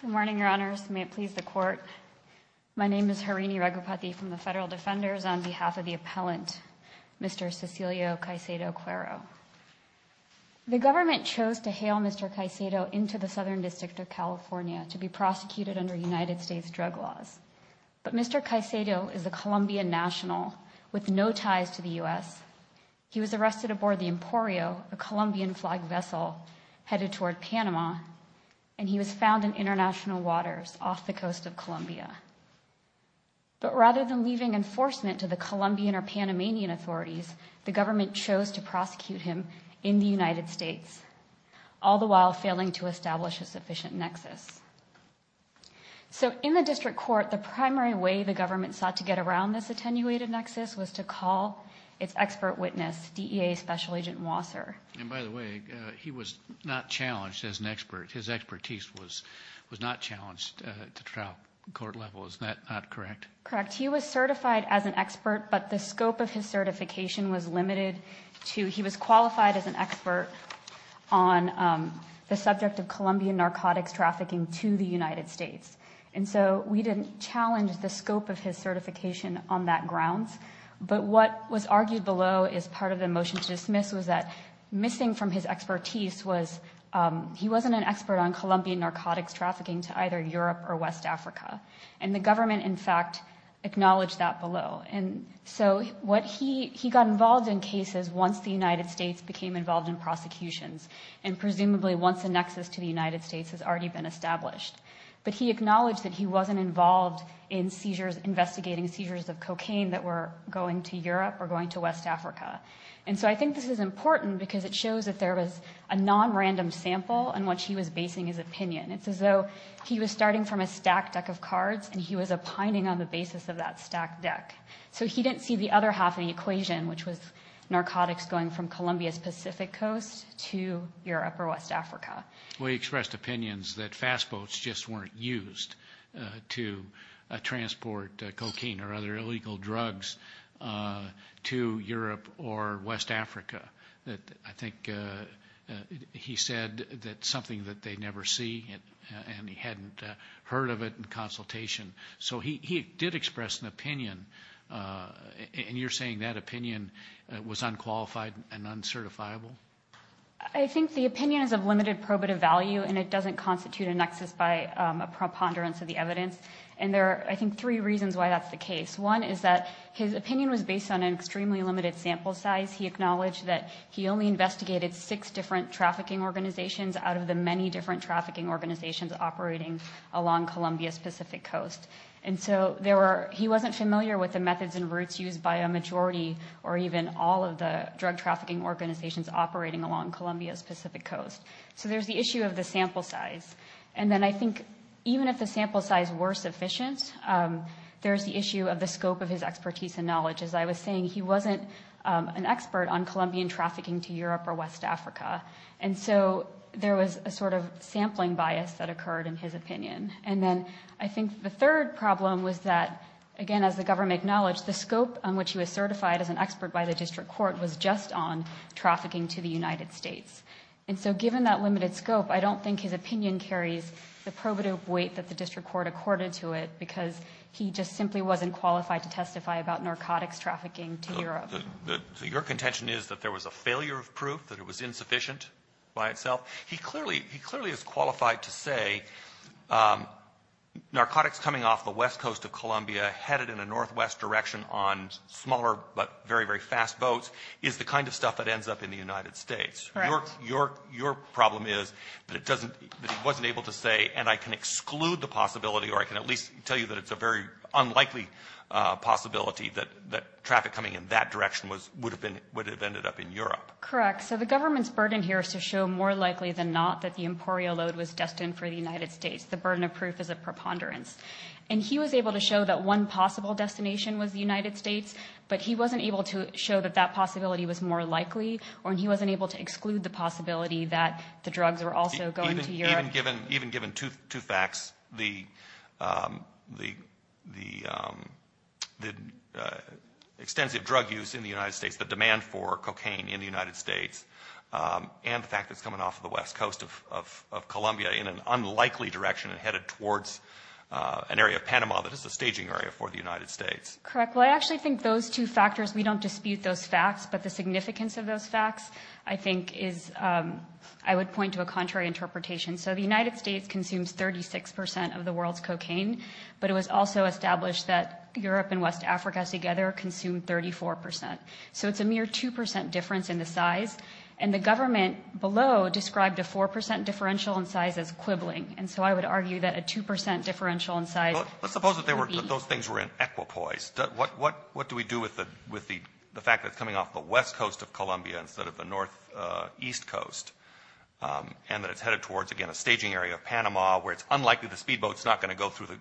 Good morning, your honors. May it please the court. My name is Harini Raghupathy from the Federal Defenders on behalf of the appellant, Mr. Cecilio Caicedo-Cuero. The government chose to hail Mr. Caicedo into the Southern District of California to be prosecuted under United States drug laws. But Mr. Caicedo is a Colombian national with no ties to the U.S. He was arrested aboard the Emporio, a Colombian flag vessel headed toward Panama, and he was found in international waters off the coast of Colombia. But rather than leaving enforcement to the Colombian or Panamanian authorities, the government chose to prosecute him in the United States, all the while failing to establish a sufficient nexus. So in the district court, the primary way the government sought to get around this attenuated nexus was to call its expert witness, DEA Special Agent Wasser. And by the way, he was not challenged as an expert. His expertise was not challenged at the trial court level. Is that not correct? Correct. He was certified as an expert, but the scope of his certification was limited to, he was qualified as an expert on the subject of Colombian narcotics trafficking to the U.S. He was challenged the scope of his certification on that grounds. But what was argued below as part of the motion to dismiss was that missing from his expertise was he wasn't an expert on Colombian narcotics trafficking to either Europe or West Africa. And the government, in fact, acknowledged that below. And so what he, he got involved in cases once the United States became involved in prosecutions, and presumably once a nexus to the United States has already been established. But he acknowledged that he wasn't involved in seizures, investigating seizures of cocaine that were going to Europe or going to West Africa. And so I think this is important because it shows that there was a nonrandom sample in which he was basing his opinion. It's as though he was starting from a stack deck of cards and he was opining on the basis of that stack deck. So he didn't see the other half of the equation, which was narcotics going from Colombia's Pacific coast to Europe or West Africa. Well, he expressed opinions that fast boats just weren't used to transport cocaine or other illegal drugs to Europe or West Africa. I think he said that something that they never see and he hadn't heard of it in consultation. So he did express an opinion. And you're saying that opinion was unqualified and uncertifiable? I think the opinion is of limited probative value and it doesn't constitute a nexus by a preponderance of the evidence. And there are, I think, three reasons why that's the case. One is that his opinion was based on an extremely limited sample size. He acknowledged that he only investigated six different trafficking organizations out of the many different trafficking organizations operating along Colombia's Pacific coast. And so he wasn't familiar with the methods and routes used by a majority or even all of the drug trafficking organizations operating along Colombia's Pacific coast. So there's the issue of the sample size. And then I think even if the sample size were sufficient, there's the issue of the scope of his expertise and knowledge. As I was saying, he wasn't an expert on Colombian trafficking to Europe or West Africa. And so there was a sort of sampling bias that occurred in his opinion. And then I think the third problem was that, again, as the government acknowledged, the scope on which he was certified as an expert by the district court was just on trafficking to the United States. And so given that limited scope, I don't think his opinion carries the probative weight that the district court accorded to it, because he just simply wasn't qualified to testify about narcotics trafficking to Europe. Stewart. So your contention is that there was a failure of proof, that it was insufficient by itself? He clearly he clearly is qualified to say narcotics coming off the west coast of Colombia, headed in a northwest direction on smaller but very, very fast boats, is the kind of stuff that ends up in the United States. Correct. Your problem is that it doesn't, that he wasn't able to say, and I can exclude the possibility or I can at least tell you that it's a very unlikely possibility that traffic coming in that direction would have ended up in Europe. Correct. So the government's burden here is to show more likely than not that the Emporio load was destined for the United States. The burden of proof is a preponderance. And he was able to show that one possible destination was the United States, but he wasn't able to exclude the possibility that the drugs were also going to Europe. Even given two facts, the extensive drug use in the United States, the demand for cocaine in the United States, and the fact that it's coming off the west coast of Colombia in an unlikely direction and headed towards an area of Panama that is a staging area for the United States. Correct. Well, I actually think those two factors, we don't dispute those facts, but the significance of those facts, I think is, I would point to a contrary interpretation. So the United States consumes 36% of the world's cocaine, but it was also established that Europe and West Africa together consumed 34%. So it's a mere 2% difference in the size. And the government below described a 4% differential in size as quibbling. And so I would argue that a 2% differential in size. Let's suppose that those things were in equipoise. What do we do with the fact that it's coming off the west coast of Colombia instead of the northeast coast, and that it's headed towards, again, a staging area of Panama where it's unlikely the speedboat is not going to go through the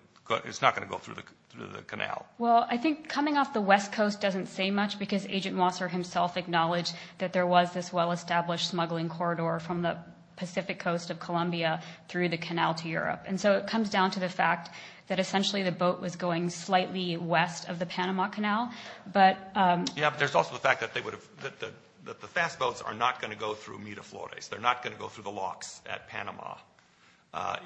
canal? Well, I think coming off the west coast doesn't say much because Agent Mosser himself acknowledged that there was this well-established smuggling corridor from the Pacific coast of Colombia through the canal to Europe. And so it comes down to the fact that essentially the boat was going slightly west of the Panama Canal. Yeah, but there's also the fact that the fast boats are not going to go through Miraflores. They're not going to go through the locks at Panama.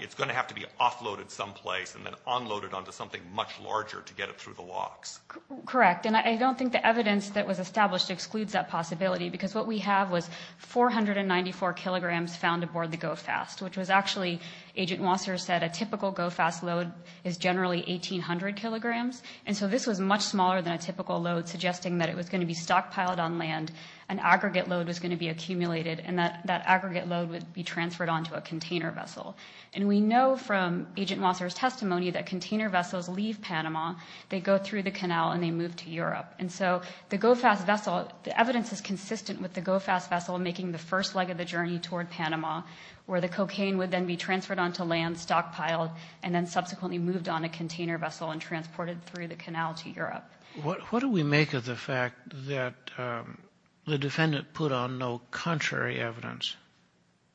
It's going to have to be offloaded someplace and then unloaded onto something much larger to get it through the locks. Correct. And I don't think the evidence that was established excludes that possibility because what we have was 494 kilograms found aboard the GO Fast, which was actually, Agent Mosser said, a typical GO Fast load is generally 1,800 kilograms. And so this was much smaller than a typical load, suggesting that it was going to be stockpiled on land, an aggregate load was going to be accumulated, and that aggregate load would be transferred onto a container vessel. And we know from Agent Mosser's testimony that container vessels leave Panama, they go through the canal, and they move to Europe. And so the GO Fast vessel, the evidence is consistent with the GO Fast vessel making the first leg of the journey toward Panama, where the cocaine would then be transferred onto land, stockpiled, and then subsequently moved on a container vessel and transported through the canal to Europe. What do we make of the fact that the defendant put on no contrary evidence?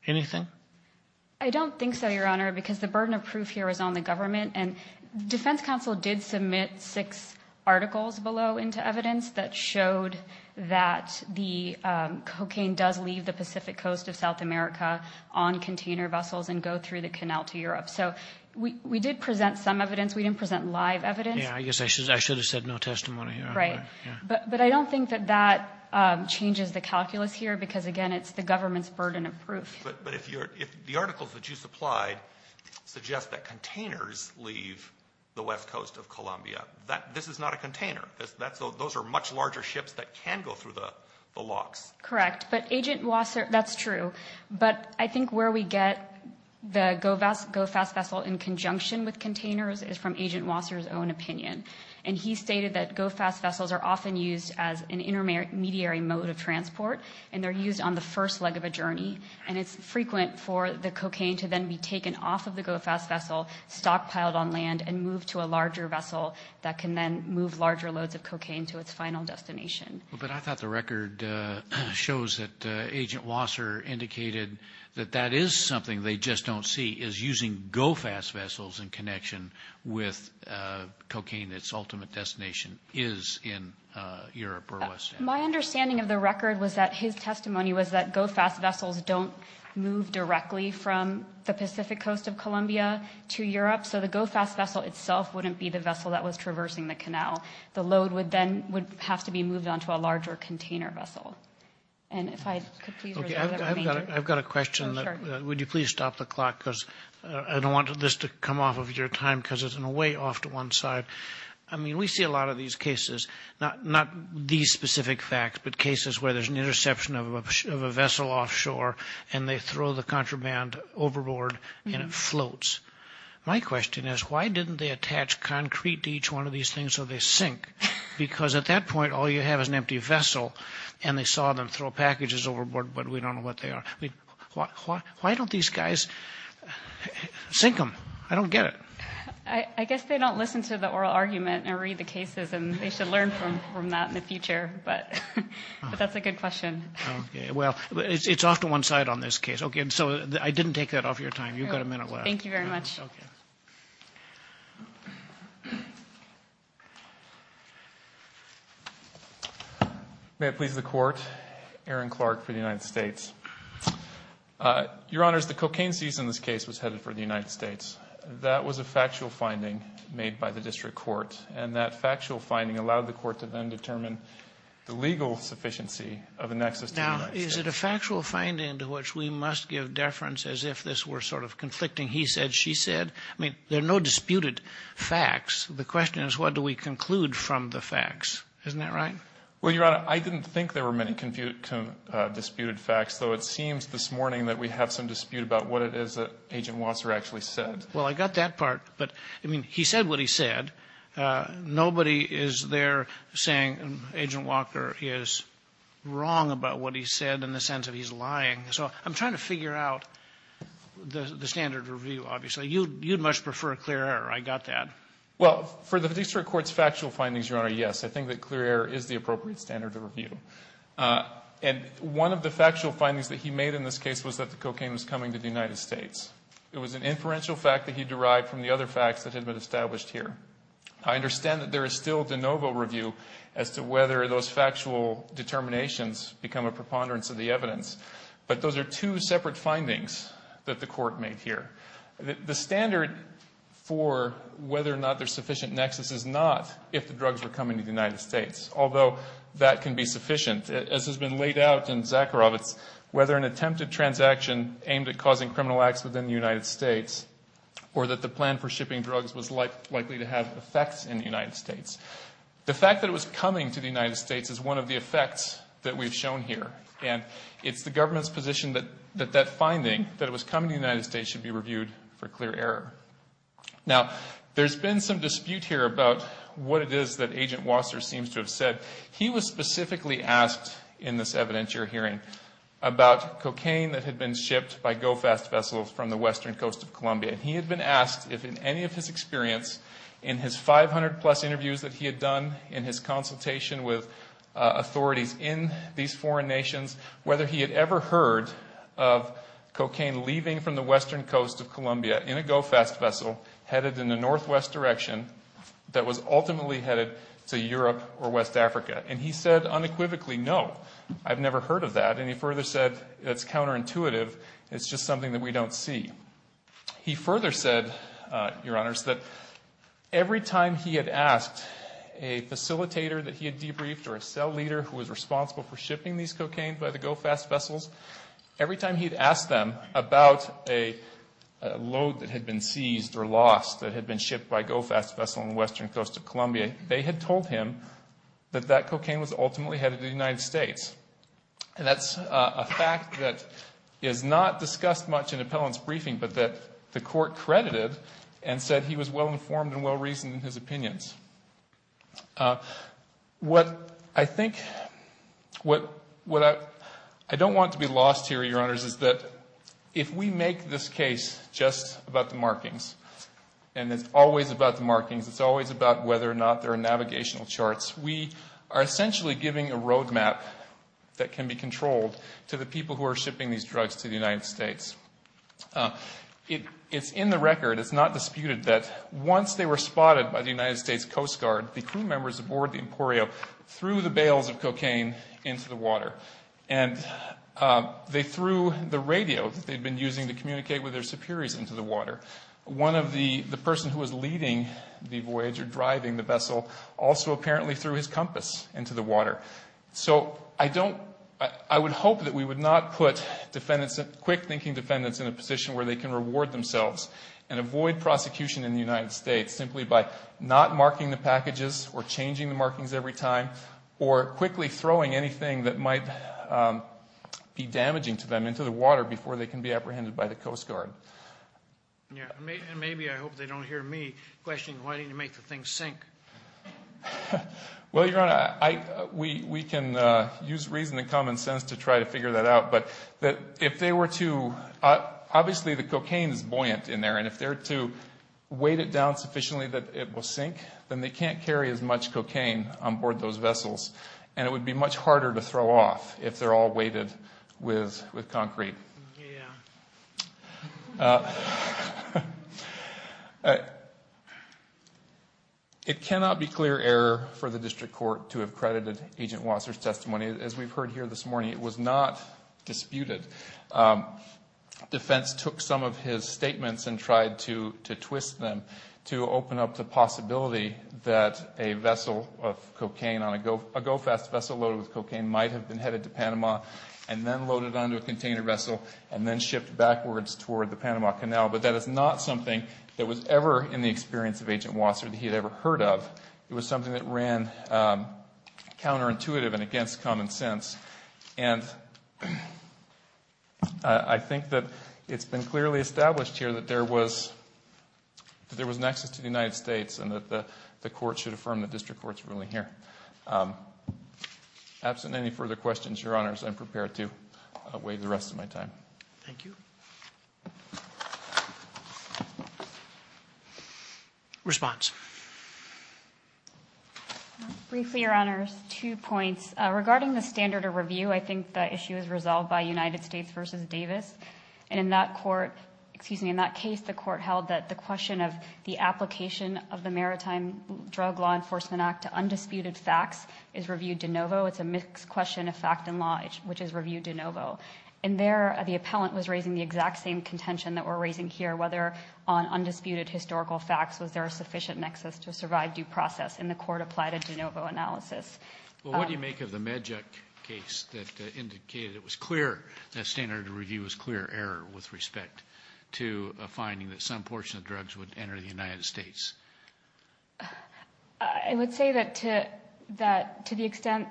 Anything? I don't think so, Your Honor, because the burden of proof here is on the government. And the Defense Council did submit six articles below into evidence that showed that the cocaine does leave the Pacific coast of South America on container vessels and go through the canal to Europe. So we did present some evidence. We didn't present live evidence. Yeah, I guess I should have said no testimony. Right. But I don't think that that changes the calculus here, because, again, it's the government's burden of proof. But if the articles that you supplied suggest that containers leave the west coast of Colombia, this is not a container. Those are much larger ships that can go through the locks. Correct. But Agent Wasser, that's true. But I think where we get the GO Fast vessel in conjunction with containers is from Agent Wasser's own opinion. And he stated that GO Fast vessels are often used as an intermediary mode of transport, and they're used on the first leg of a journey. And it's frequent for the cocaine to then be taken off of the GO Fast vessel, stockpiled on land, and moved to a larger vessel that can then move larger loads of cocaine to its final destination. But I thought the record shows that Agent Wasser indicated that that is something they just don't see, is using GO Fast vessels in connection with cocaine that's ultimate destination is in Europe or West Africa. My understanding of the record was that his testimony was that GO Fast vessels don't move directly from the Pacific coast of Colombia to Europe. So the GO Fast vessel itself wouldn't be the vessel that was traversing the canal. The load would then have to be moved onto a larger container vessel. And if I could please reserve that remainder. I've got a question. Would you please stop the clock, because I don't want this to come off of your time, because it's in a way off to one side. I mean, we see a lot of these cases, not these specific facts, but cases where there's an interception of a vessel offshore, and they throw the contraband overboard, and it floats. My question is, why didn't they attach concrete to each one of these things so they sink? Because at that point, all you have is an empty vessel, and they saw them throw packages overboard, but we don't know what they are. Why don't these guys sink them? I don't get it. I guess they don't listen to the oral argument and read the cases, and they should learn from that in the future, but that's a good question. Okay, well, it's off to one side on this case. Okay, so I didn't take that off your time. You've got a minute left. Thank you very much. May it please the Court. Aaron Clark for the United States. Your Honors, the cocaine season this case was headed for the United States. That was a factual finding made by the District Court, and that factual finding allowed the Court to then determine the legal sufficiency of a nexus to the United States. Now, is it a factual finding to which we must give deference as if this were sort of conflicting he said, she said? I mean, there are no disputed facts. The question is, what do we conclude from the facts? Isn't that right? Well, Your Honor, I didn't think there were many disputed facts, though it seems this is a dispute about what it is that Agent Wasser actually said. Well, I got that part, but, I mean, he said what he said. Nobody is there saying Agent Walker is wrong about what he said in the sense that he's lying. So I'm trying to figure out the standard of review, obviously. You'd much prefer clear error. I got that. Well, for the District Court's factual findings, Your Honor, yes, I think that clear error is the appropriate standard of review. And one of the factual findings that he made in this case was that the cocaine was coming to the United States. It was an inferential fact that he derived from the other facts that had been established here. I understand that there is still de novo review as to whether those factual determinations become a preponderance of the evidence, but those are two separate findings that the Court made here. The standard for whether or not there's sufficient nexus is not if the drugs were coming to the United States, although that can be sufficient. As has been laid out in Zakharovitz, whether an attempted transaction aimed at causing criminal acts within the United States or that the plan for shipping drugs was likely to have effects in the United States. The fact that it was coming to the United States is one of the effects that we've shown here. And it's the government's position that that finding, that it was coming to the United States, should be reviewed for clear error. Now there's been some dispute here about what it is that Agent Wasser seems to have said. He was specifically asked in this evidence you're hearing about cocaine that had been shipped by GO-FAST vessels from the western coast of Colombia. And he had been asked if in any of his experience, in his 500 plus interviews that he had done, in his consultation with authorities in these foreign nations, whether he had ever heard of cocaine leaving from the western coast of Colombia in a GO-FAST vessel headed in the northwest direction that was ultimately headed to Europe or West Africa. And he said unequivocally, no, I've never heard of that. And he further said it's counterintuitive. It's just something that we don't see. He further said, Your Honors, that every time he had asked a facilitator that he had debriefed or a cell leader who was responsible for shipping these cocaine by the GO-FAST vessels, every time he had asked them about a load that had been seized or lost that had been shipped by a GO-FAST vessel on the western coast of Colombia, they had told him that that cocaine was ultimately headed to the United States. And that's a fact that is not discussed much in appellant's briefing, but that the court credited and said he was well informed and well reasoned in his opinions. What I think, what I don't want to be lost here, Your Honors, is that if we make this case just about the markings, and it's always about the markings, it's always about whether or not there are navigational charts, we are essentially giving a road map that can be controlled to the people who are shipping these drugs to the United States. It's in the record, it's not disputed that once they were spotted by the United States Coast Guard, the crew members aboard the Emporio threw the bales of cocaine into the water. And they threw the radio that they had been using to communicate with their superiors into the water. One of the persons who was leading the voyage or driving the vessel also apparently threw his compass into the water. So I don't, I would hope that we would not put defendants, quick thinking defendants in a position where they can reward themselves and avoid prosecution in the United States simply by not marking the packages or changing the markings every time or quickly throwing anything that might be damaging to them into the water before they can be apprehended by the Coast Guard. Yeah. And maybe, I hope they don't hear me questioning why didn't you make the thing sink? Well, Your Honor, we can use reason and common sense to try to figure that out. But if they were to, obviously the cocaine is buoyant in there. And if they were to weight it down sufficiently that it will sink, then they can't carry as much cocaine on board those It's harder to throw off if they're all weighted with concrete. Yeah. It cannot be clear error for the district court to have credited Agent Wasser's testimony. As we've heard here this morning, it was not disputed. Defense took some of his statements and tried to twist them to open up the possibility that a vessel of cocaine on a, a GO Fest vessel loaded with cocaine might have been headed to Panama and then loaded onto a container vessel and then shipped backwards toward the Panama Canal. But that is not something that was ever in the experience of Agent Wasser that he had ever heard of. It was something that ran counterintuitive and against common sense. And I think that it's been clearly established here that there was, that there was nexus to the United States and that the Absent any further questions, your honors, I'm prepared to wait the rest of my time. Thank you. Response. Briefly, your honors, two points. Regarding the standard of review, I think the issue is resolved by United States versus Davis. And in that court, excuse me, in that case, the court held that the question of the application of the Maritime Drug Law Enforcement Act to a mixed question of fact and law, which is review de novo. And there, the appellant was raising the exact same contention that we're raising here, whether on undisputed historical facts was there a sufficient nexus to survive due process. And the court applied a de novo analysis. Well, what do you make of the MedJet case that indicated it was clear that standard of review was clear error with respect to a finding that some portion of drugs would enter the United States? I would say that to the extent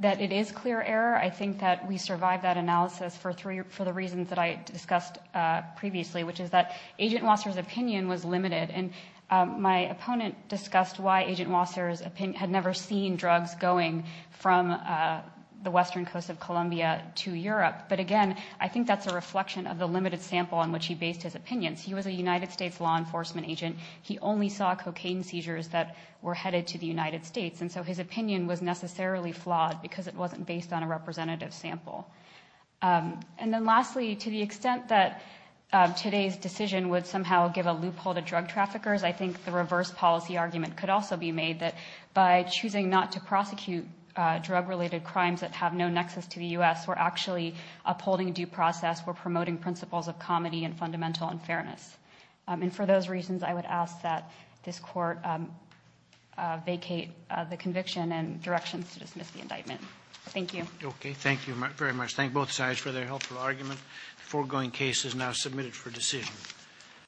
that it is clear error, I think that we survived that analysis for the reasons that I discussed previously, which is that Agent Wasser's opinion was limited. And my opponent discussed why Agent Wasser had never seen drugs going from the western coast of Colombia to Europe. But again, I think that's a reflection of the limited sample on which he based his opinions. He was a United States law enforcement agent. He only saw cocaine seizures that were headed to the United States. And so his opinion was necessarily flawed because it wasn't based on a representative sample. And then lastly, to the extent that today's decision would somehow give a loophole to drug traffickers, I think the reverse policy argument could also be made that by choosing not to prosecute drug-related crimes that have no nexus to the U.S., we're actually upholding due process, we're promoting principles of comedy and fundamental unfairness. And for those reasons, I would ask that this Court vacate the conviction and directions to dismiss the indictment. Thank you. Okay. Thank you very much. Thank both sides for their helpful argument. The foregoing case is now submitted for decision.